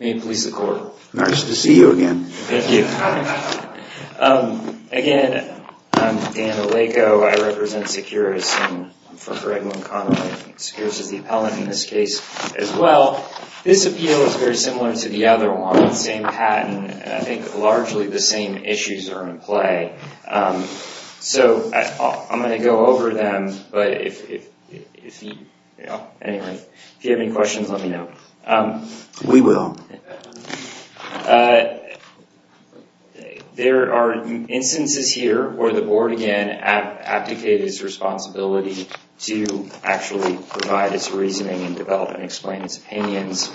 This video was made in Cooperation with the U.S. Embassy in the Philippines. Thank you for watching. May it please the Court. Nice to see you again. Again, I'm Dan Aleko. I represent Securus. I'm for Greg McConnell. Securus is the appellant in this case as well. This appeal is very similar to the other one, the same patent. I think largely the same issues are in play. I'm going to go over them, but if you have any questions, let me know. We will. There are instances here where the Board, again, abdicated its responsibility to actually provide its reasoning and develop and explain its opinions.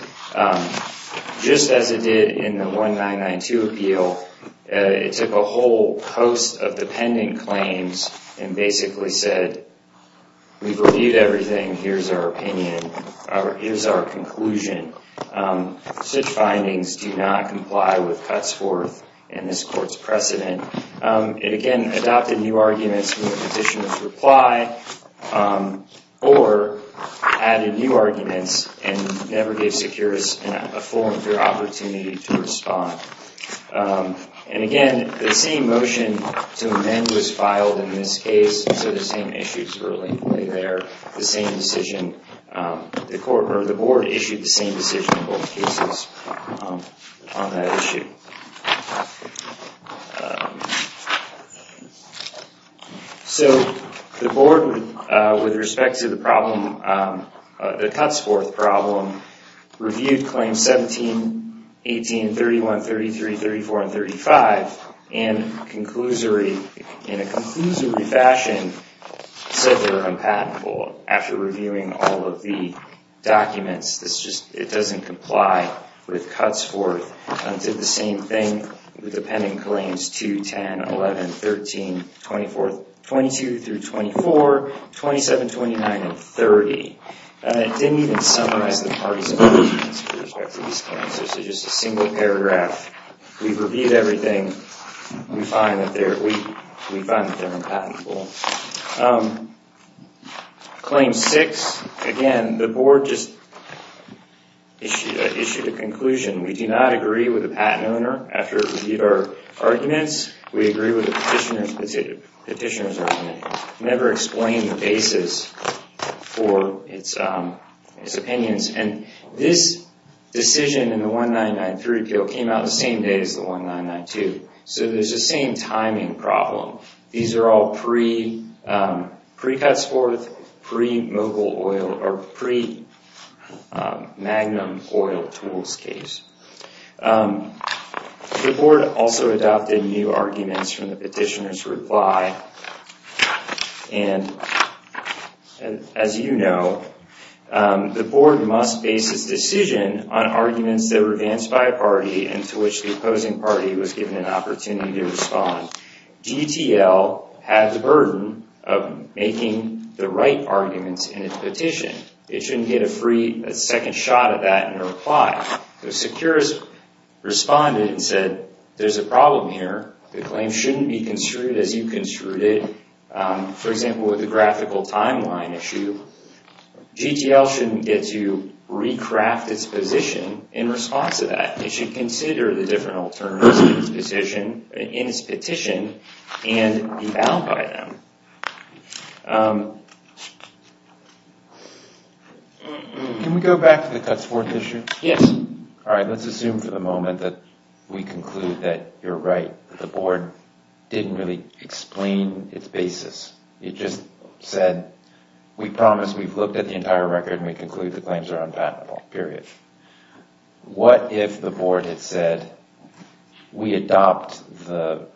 Just as it did in the 1992 appeal, it took a whole host of dependent claims and basically said, we've reviewed everything. Here's our opinion. Here's our conclusion. Such findings do not comply with Cutsforth and this Court's precedent. It again adopted new arguments from the petitioner's reply or added new arguments and never gave Securus a full and fair opportunity to respond. The same motion to amend was filed in this case, so the same issues were in play there. The Board issued the same decision in both cases on that issue. The Board, with respect to the problem, the Cutsforth problem, reviewed Claims 17, 18, 31, 33, 34, and 35, and in a conclusory fashion said they were unpatentable after reviewing all of the documents. It doesn't comply with Cutsforth. It did the same thing with the pending claims 2, 10, 11, 13, 22 through 24, 27, 29, and 30. It didn't even summarize the parties' opinions with respect to these claims. Just a single paragraph, we've reviewed everything. We find that they're unpatentable. Claim 6, again, the Board just issued a conclusion. We do not agree with the patent owner after it reviewed our arguments. We agree with the petitioner's opinion. It never explained the basis for its opinions. This decision in the 1993 appeal came out the same day as the 1992. There's the same timing problem. These are all pre-Cutsforth, pre-Mogul oil, or pre- Magnum oil tools case. The Board also adopted new arguments from the petitioner's reply. As you know, the Board must base its decision on arguments that were advanced by a party and to which the opposing party was given an opportunity to respond. GTL had the burden of making the right arguments in its petition. It shouldn't get a second shot at that in a reply. Securus responded and said, there's a problem here. The claim shouldn't be construed as you construed it. For example, with the graphical timeline issue, GTL shouldn't get to recraft its position in response to that. It should consider the different alternatives in its petition and be bound by them. Can we go back to the Cutsforth issue? Yes. Alright, let's assume for the moment that we conclude that you're right. The Board didn't really explain its basis. It just said, we promise we've looked at the entire record and we conclude the claims are unpatentable, period. What if the Board had said, we adopt the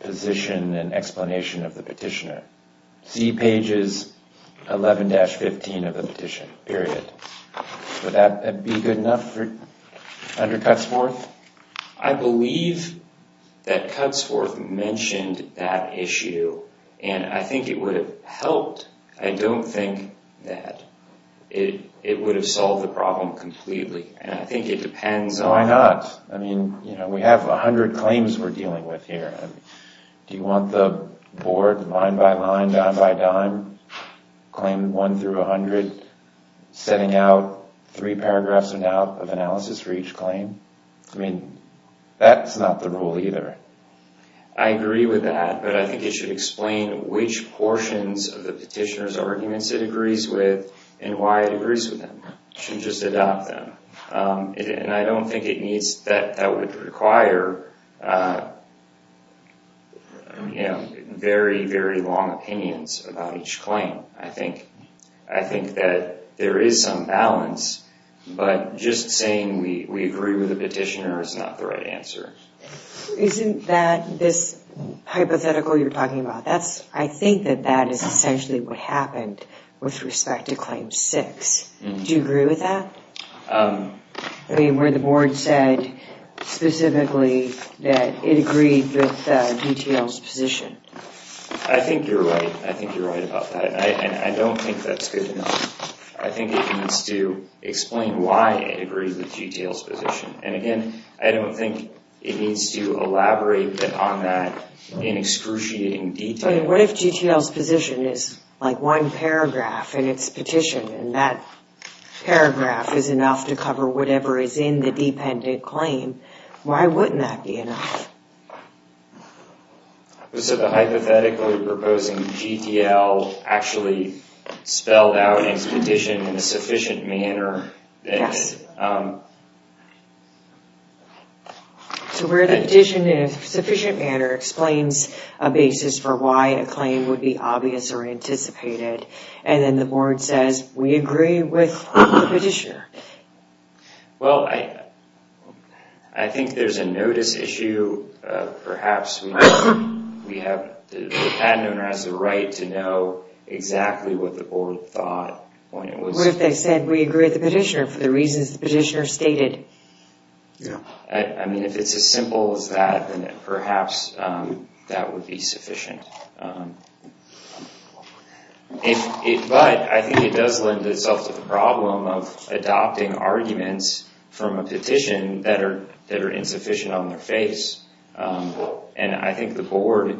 position and explanation of the petitioner? See pages 11-15 of the petition, period. Would that be good enough under Cutsforth? I believe that Cutsforth mentioned that issue and I think it would have helped. I don't think that it would have solved the problem completely. Why not? We have a hundred claims we're dealing with here. Do you want the Board line by line, dime by dime, claim one through a hundred, setting out three paragraphs of analysis for each claim? That's not the rule either. I agree with that, but I think it should explain which portions of the petitioner's arguments it agrees with and why it agrees with them. It should just adopt them. I don't think it needs, that would require very, very long opinions about each claim. I think that there is some balance, but just saying we agree with the petitioner is not the right answer. Isn't that this hypothetical you're talking about? I think that that is essentially what happened with respect to claim six. Do you agree with that? Where the Board said specifically that it agreed with GTL's position? I think you're right. I think you're right about that. I don't think that's good enough. I think it needs to explain why it agreed with GTL's position. Again, I don't think it needs to elaborate on that in excruciating detail. What if GTL's position is like one paragraph in its petition and that paragraph is enough to cover whatever is in the dependent claim? Why wouldn't that be enough? So the hypothetically proposing GTL actually spelled out in its petition in a sufficient manner. So where the petition in a sufficient manner explains a basis for why a claim would be obvious or anticipated and then the Board says we agree with the petitioner. Well, I think there's a notice issue of perhaps we have the patent owner has the right to know exactly what the Board thought. What if they said we agree with the petitioner for the reasons the petitioner stated? I mean if it's as simple as that then perhaps that would be sufficient. But I think it does lend itself to the problem of adopting arguments from a petition that are insufficient on their face and I think the Board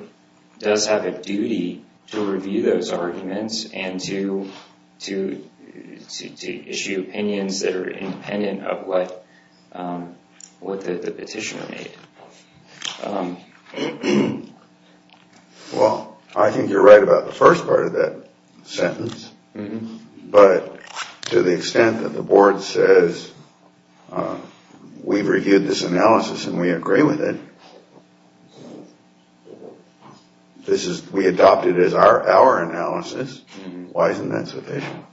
does have a duty to review those arguments and to issue opinions that are independent of what the petitioner made. Well, I think you're right about the first part of that sentence but to the extent that the Board says we've reviewed this analysis and we agree with it, we adopt it as our analysis, why isn't that sufficient?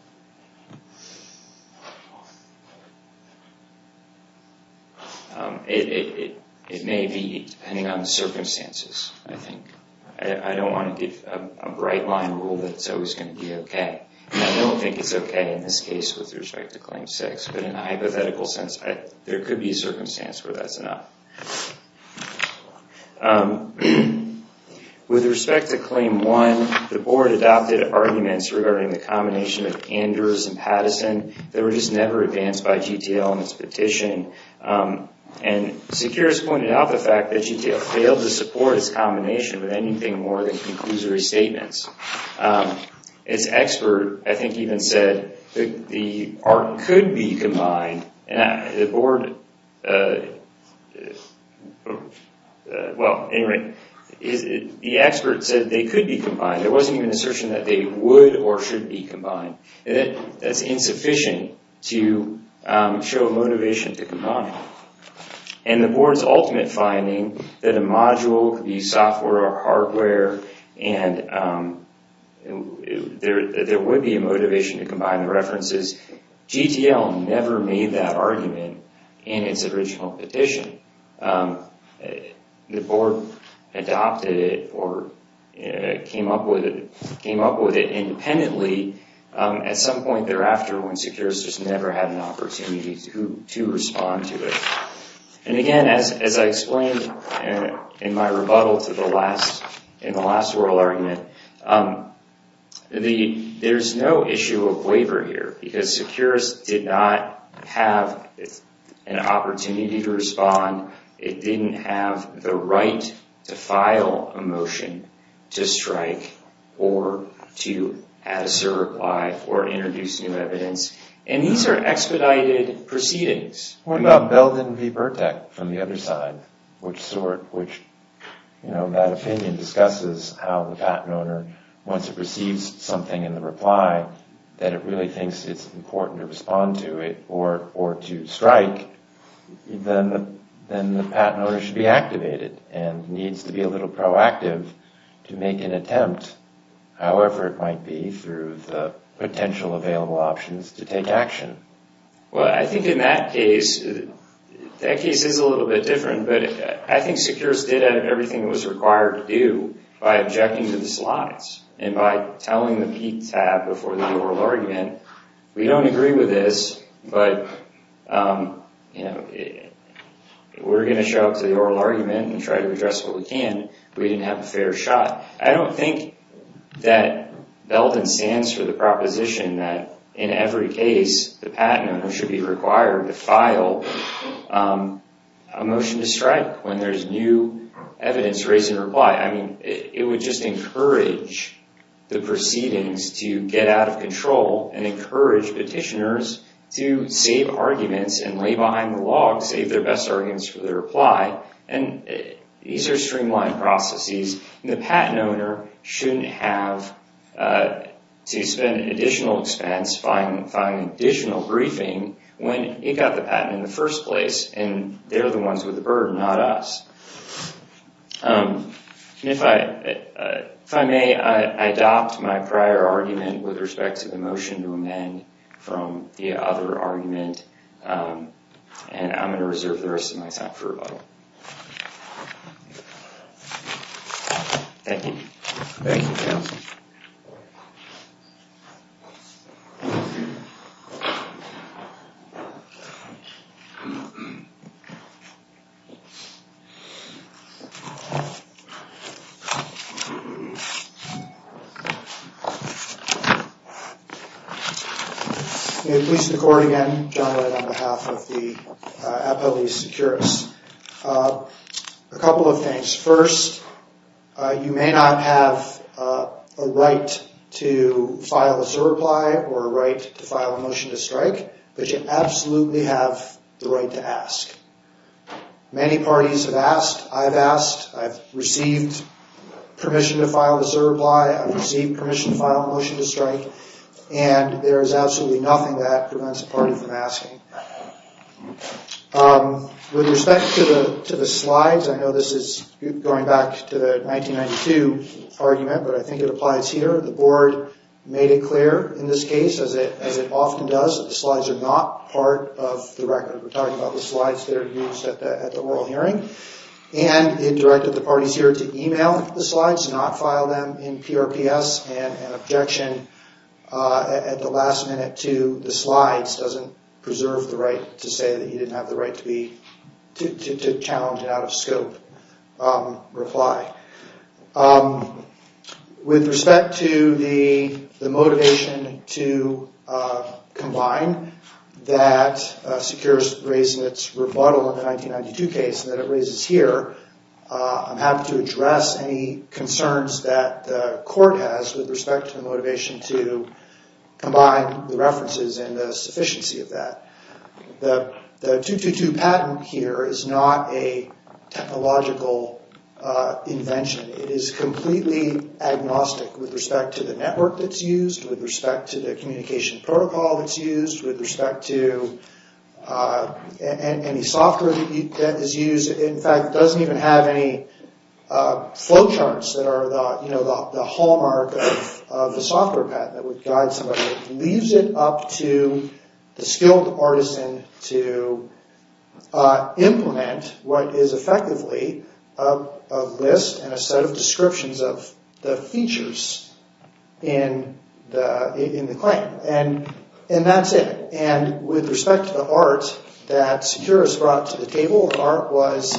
It may be depending on the circumstances. I don't want to give a bright line rule that it's always going to be okay. I don't think it's okay in this case with respect to Claim 6 but in a hypothetical sense there could be a circumstance where that's enough. With respect to Claim 1, the Board adopted arguments regarding the combination of Anders and Patterson that were just never advanced by GTL in its petition and Securus pointed out the fact that GTL failed to support its combination with anything more than conclusory statements. Its expert I think even said the ARC could be combined and the Board well anyway, the expert said they could be combined. There wasn't even an assertion that they would or should be combined. That's insufficient to show motivation to combine. And the Board's ultimate finding that a module could be software or hardware and there would be a motivation to combine the references, GTL never made that and the Board adopted it or came up with it independently at some point thereafter when Securus just never had an opportunity to respond to it. And again as I explained in my rebuttal to the last, in the last oral argument, there's no issue of waiver here because Securus did not have an opportunity to respond. It didn't have the right to file a motion to strike or to answer a reply or introduce new evidence. And these are expedited proceedings. What about Belden v. Burdek from the other side? That opinion discusses how the patent owner, once it receives something in the reply that it really thinks it's important to respond to it or to strike, then the patent owner should be activated and needs to be a little proactive to make an attempt, however it might be, through the potential available options to take action. Well I think in that case, that case is a little bit different, but I think Securus did everything it was required to do by objecting to the slots and by telling the PTAB before the oral argument, we don't agree with this, but we're going to show up to the oral argument and try to address what we can. We didn't have a fair shot. I don't think that Belden stands for the proposition that in every case the patent owner should be required to file a motion to strike when there's new evidence raised in reply. I mean, it would just encourage the proceedings to get out of control and encourage petitioners to save arguments and lay behind the log, save their best arguments for the reply. And these are streamlined processes. The patent owner shouldn't have to spend additional expense filing additional briefing when he got the patent in the first place and they're the ones with the burden, not us. If I may, I adopt my prior argument with respect to the motion to amend from the other argument and I'm going to reserve the rest of my time for rebuttal. Thank you. May it please the court again, John Wright on behalf of the U.S. Department of Justice. First, you may not have a right to file a Zero Reply or a right to file a motion to strike, but you absolutely have the right to ask. Many parties have asked. I've asked. I've received permission to file a Zero Reply. I've received permission to file a motion to strike. And there is absolutely nothing that prevents a party from asking. With respect to the slides, I know this is going back to the 1992 argument, but I think it applies here. The board made it clear in this case, as it often does, that the slides are not part of the record. We're talking about the slides that are used at the oral hearing. And it directed the parties here to email the slides, not file them in PRPS and an objection at the last minute to the slides doesn't preserve the right to say that you didn't have the right to challenge an out-of-scope reply. With respect to the motivation to combine that secures raised in its rebuttal in the 1992 case that it raises here, I'm happy to address any concerns that the court has with respect to the motivation to combine the references and the sufficiency of that. The 222 patent here is not a technological invention. It is completely agnostic with respect to the network that's used, with respect to the communication protocol that's used, with respect to any software that is used. In fact, it doesn't even have any flowcharts that are the hallmark of the software patent. It leaves it up to the skilled artisan to implement what is effectively a list and a set of descriptions of the features in the claim. And that's it. And with respect to the art that Securus brought to the table, the art was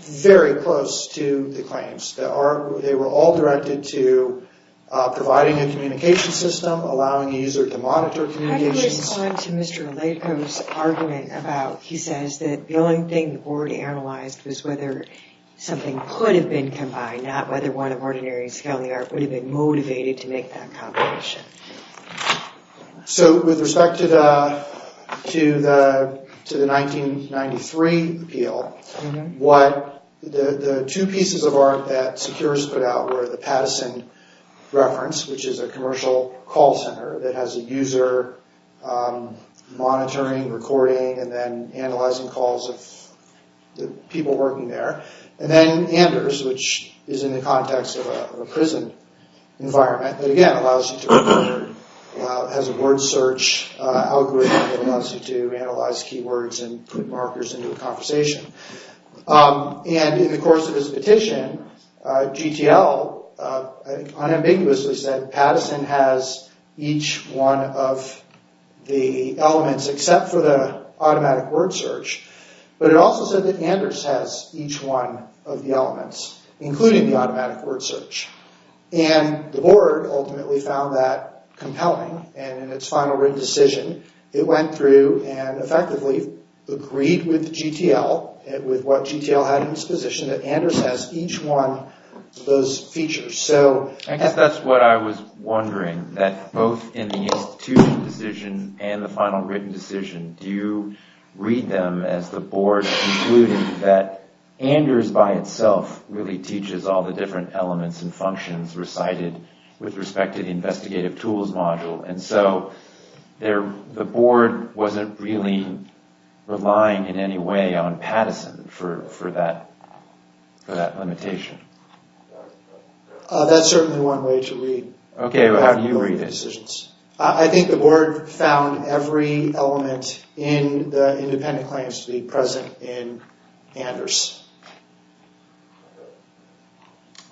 very close to the claims. They were all directed to providing a communication system, allowing the user to monitor communications. In response to Mr. Aleko's argument, he says that the only thing the board analyzed was whether something could have been combined, not whether one of Ordinary and Scaly Art would have been motivated to make that combination. With respect to the 1993 appeal, the two pieces of art that Securus put out were the monitoring, recording, and then analyzing calls of the people working there. And then Anders, which is in the context of a prison environment, that again, has a word search algorithm that allows you to analyze keywords and put markers into a conversation. And in the course of his petition, GTL unambiguously said Patterson has each one of the elements, except for the automatic word search. But it also said that Anders has each one of the elements, including the automatic word search. And the board ultimately found that compelling. And in its final written decision, it went through and effectively agreed with GTL, with what GTL had in its position, that Anders has each one of those features. I guess that's what I was wondering, that both in the institutional decision and the final written decision, do you read them as the board concluded that Anders by itself really teaches all the different elements and functions recited with respect to the investigative tools module? And so the board wasn't really relying in any way on Patterson for that limitation. That's certainly one way to read. Okay, how do you read it? I think the board found every element in the independent claims to be present in Anders.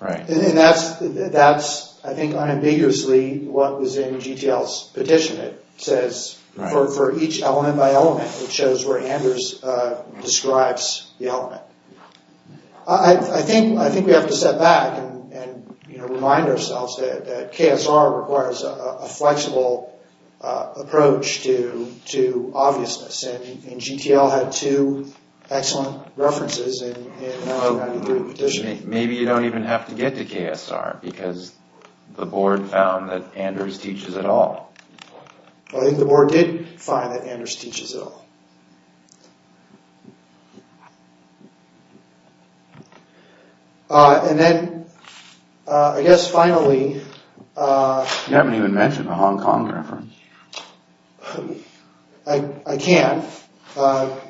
And that's, I think, unambiguously what was in GTL's petition. It says, for each element by element, it shows where Anders describes the element. I think we have to step back and remind ourselves that KSR requires a flexible approach to obviousness. And GTL had two excellent references in 1993 petition. Maybe you don't even have to get to KSR because the board found that Anders teaches it all. I think the board did find that Anders teaches it all. And then, I guess finally... You haven't even mentioned the Hong Kong reference. I can't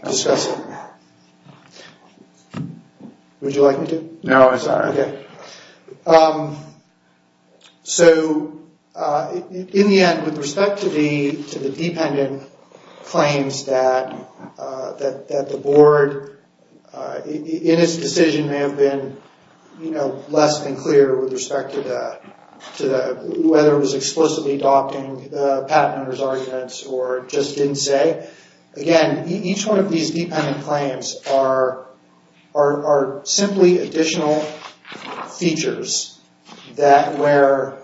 discuss it. Would you like me to? No, I'm sorry. So, in the end, with respect to the dependent claims that the board in its decision may have been less than clear with respect to whether it was explicitly adopting Patterner's arguments or just didn't say, again, each one of these dependent claims are simply additional features that were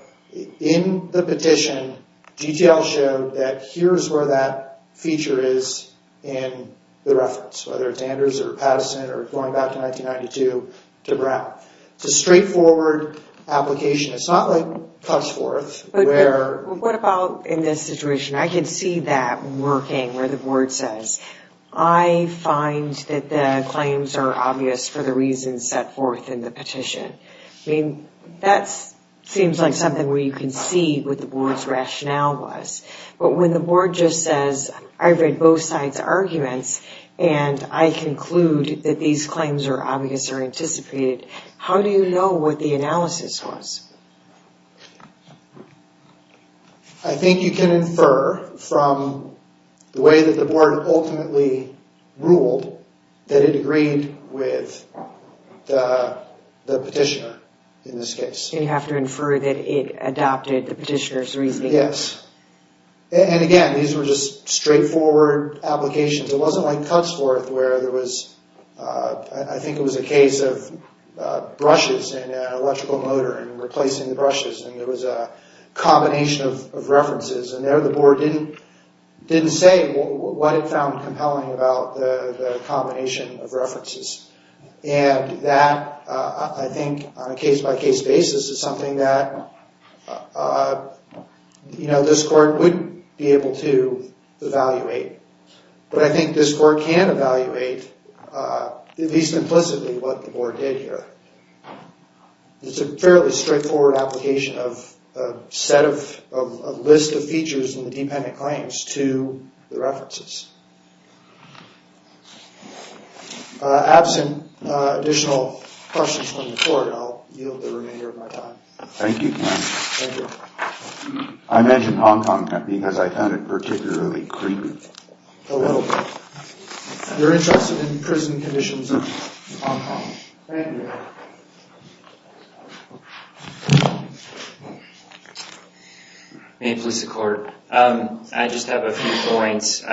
in the petition. GTL showed that here's where that feature is in the reference, whether it's Anders or Patterson or going back to 1992 to Brown. It's a straightforward application. It's not like cuts forth. What about in this situation? I can see that working where the board says, I find that the claims are obvious for the reasons set forth in the petition. That seems like something where you can see what the board's rationale was. But when the board just says, I read both sides' arguments and I conclude that these claims are obvious or anticipated, how do you know what the analysis was? I think you can infer from the way that the board ultimately ruled that it agreed with the petitioner in this case. You have to infer that it adopted the petitioner's reasoning. Again, these were just straightforward applications. It wasn't like cuts forth where there was I think it was a case of brushes and an electrical motor and replacing the brushes and there was a combination of references and there the board didn't say what it found compelling about the combination of references. I think on a case-by-case basis, it's something that this court wouldn't be able to evaluate. But I think this court can evaluate at least implicitly what the board did here. It's a fairly straightforward application of a list of features in the dependent claims to the references. Absent additional questions from the court, I'll yield the remainder of my time. Thank you. I mentioned Hong Kong because I found it particularly creepy. A little bit. You're interested in prison conditions in Hong Kong. Thank you. May it please the court. I just have a few points.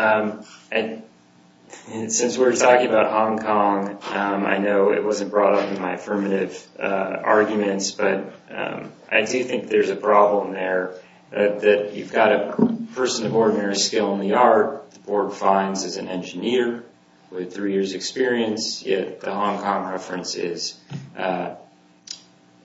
Since we're talking about Hong Kong, I know it wasn't brought up in my affirmative arguments, but I do think there's a problem there that you've got a person of ordinary skill in the art the board finds as an engineer with three years experience, yet the Hong Kong reference is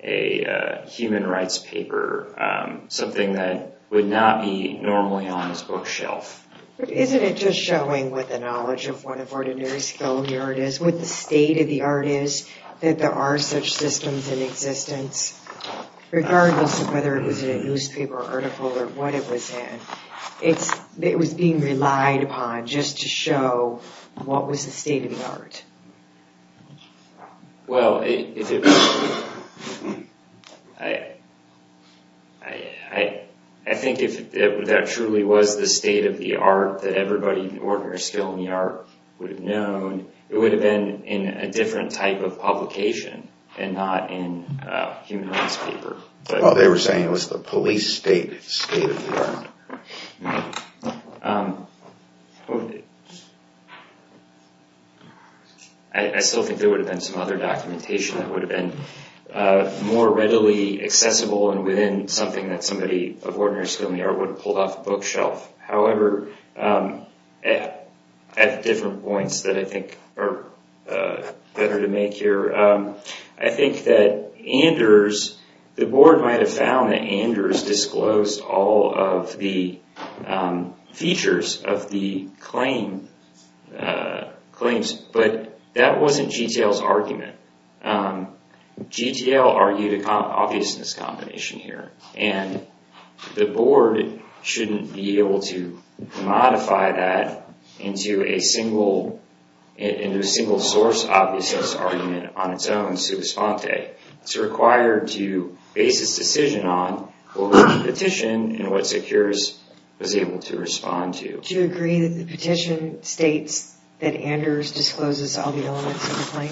a human rights paper, something that would not be normally on this bookshelf. But isn't it just showing what the knowledge of one of ordinary skill in the art is, what the state of the art is, that there are such systems in existence, regardless of whether it was in a newspaper or article or what it was in. It was being relied upon just to show what was the state of the art. I think if that truly was the state of the art that everybody in ordinary skill in the art would have known, it would have been in a different type of publication and not in a human rights paper. All they were saying was the police state of the art. I still think there would have been some other documentation that would have been more readily accessible and within something that somebody of ordinary skill in the art would have pulled off the bookshelf. However, at different points that I think are better to make here, I think that Anders, the board might have found that Anders disclosed all of the features of the claims, but that wasn't GTL's argument. GTL argued an obviousness combination here, and the board shouldn't be able to modify that into a single source obviousness argument on its own. It's required to base its decision on what the petition and what Secures was able to respond to. Do you agree that the petition states that Anders discloses all the elements of the claim?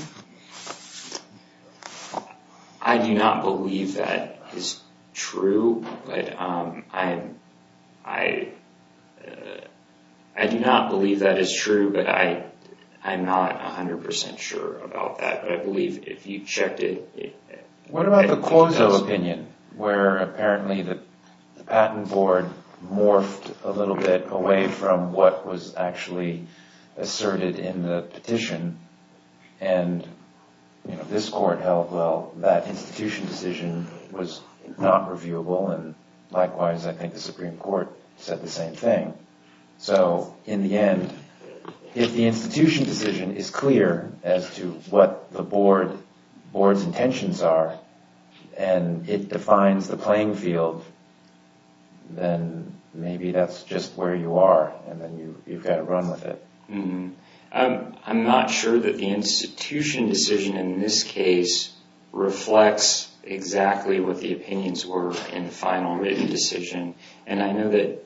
I do not believe that is true, but I do not believe that is true, but I'm not 100% sure about that, but I believe if you checked it... What about the Clozo opinion, where apparently the patent board morphed a little bit away from what was actually asserted in the petition, and this court held, well, that institution decision was not reviewable, and likewise I think the Supreme Court said the same thing. In the end, if the institution decision is clear as to what the board's intentions are, and it defines the institution decision, then you've got to run with it. I'm not sure that the institution decision in this case reflects exactly what the opinions were in the final written decision, and I know that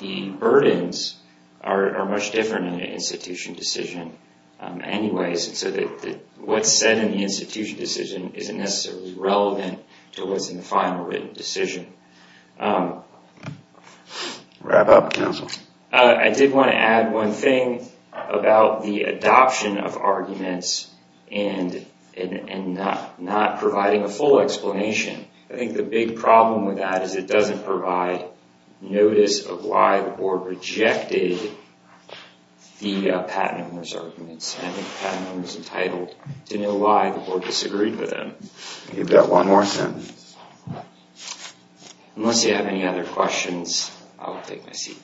the burdens are much different in an institution decision anyways, so that what's said in the institution decision isn't necessarily relevant to what's in the final written decision. I did want to add one thing about the adoption of arguments and not providing a full explanation. I think the big problem with that is it doesn't provide notice of why the board rejected the patent owner's arguments. I think the patent owner is entitled to know why the board disagreed with him. Give that one more sentence. Unless you have any other questions, I will take my seat.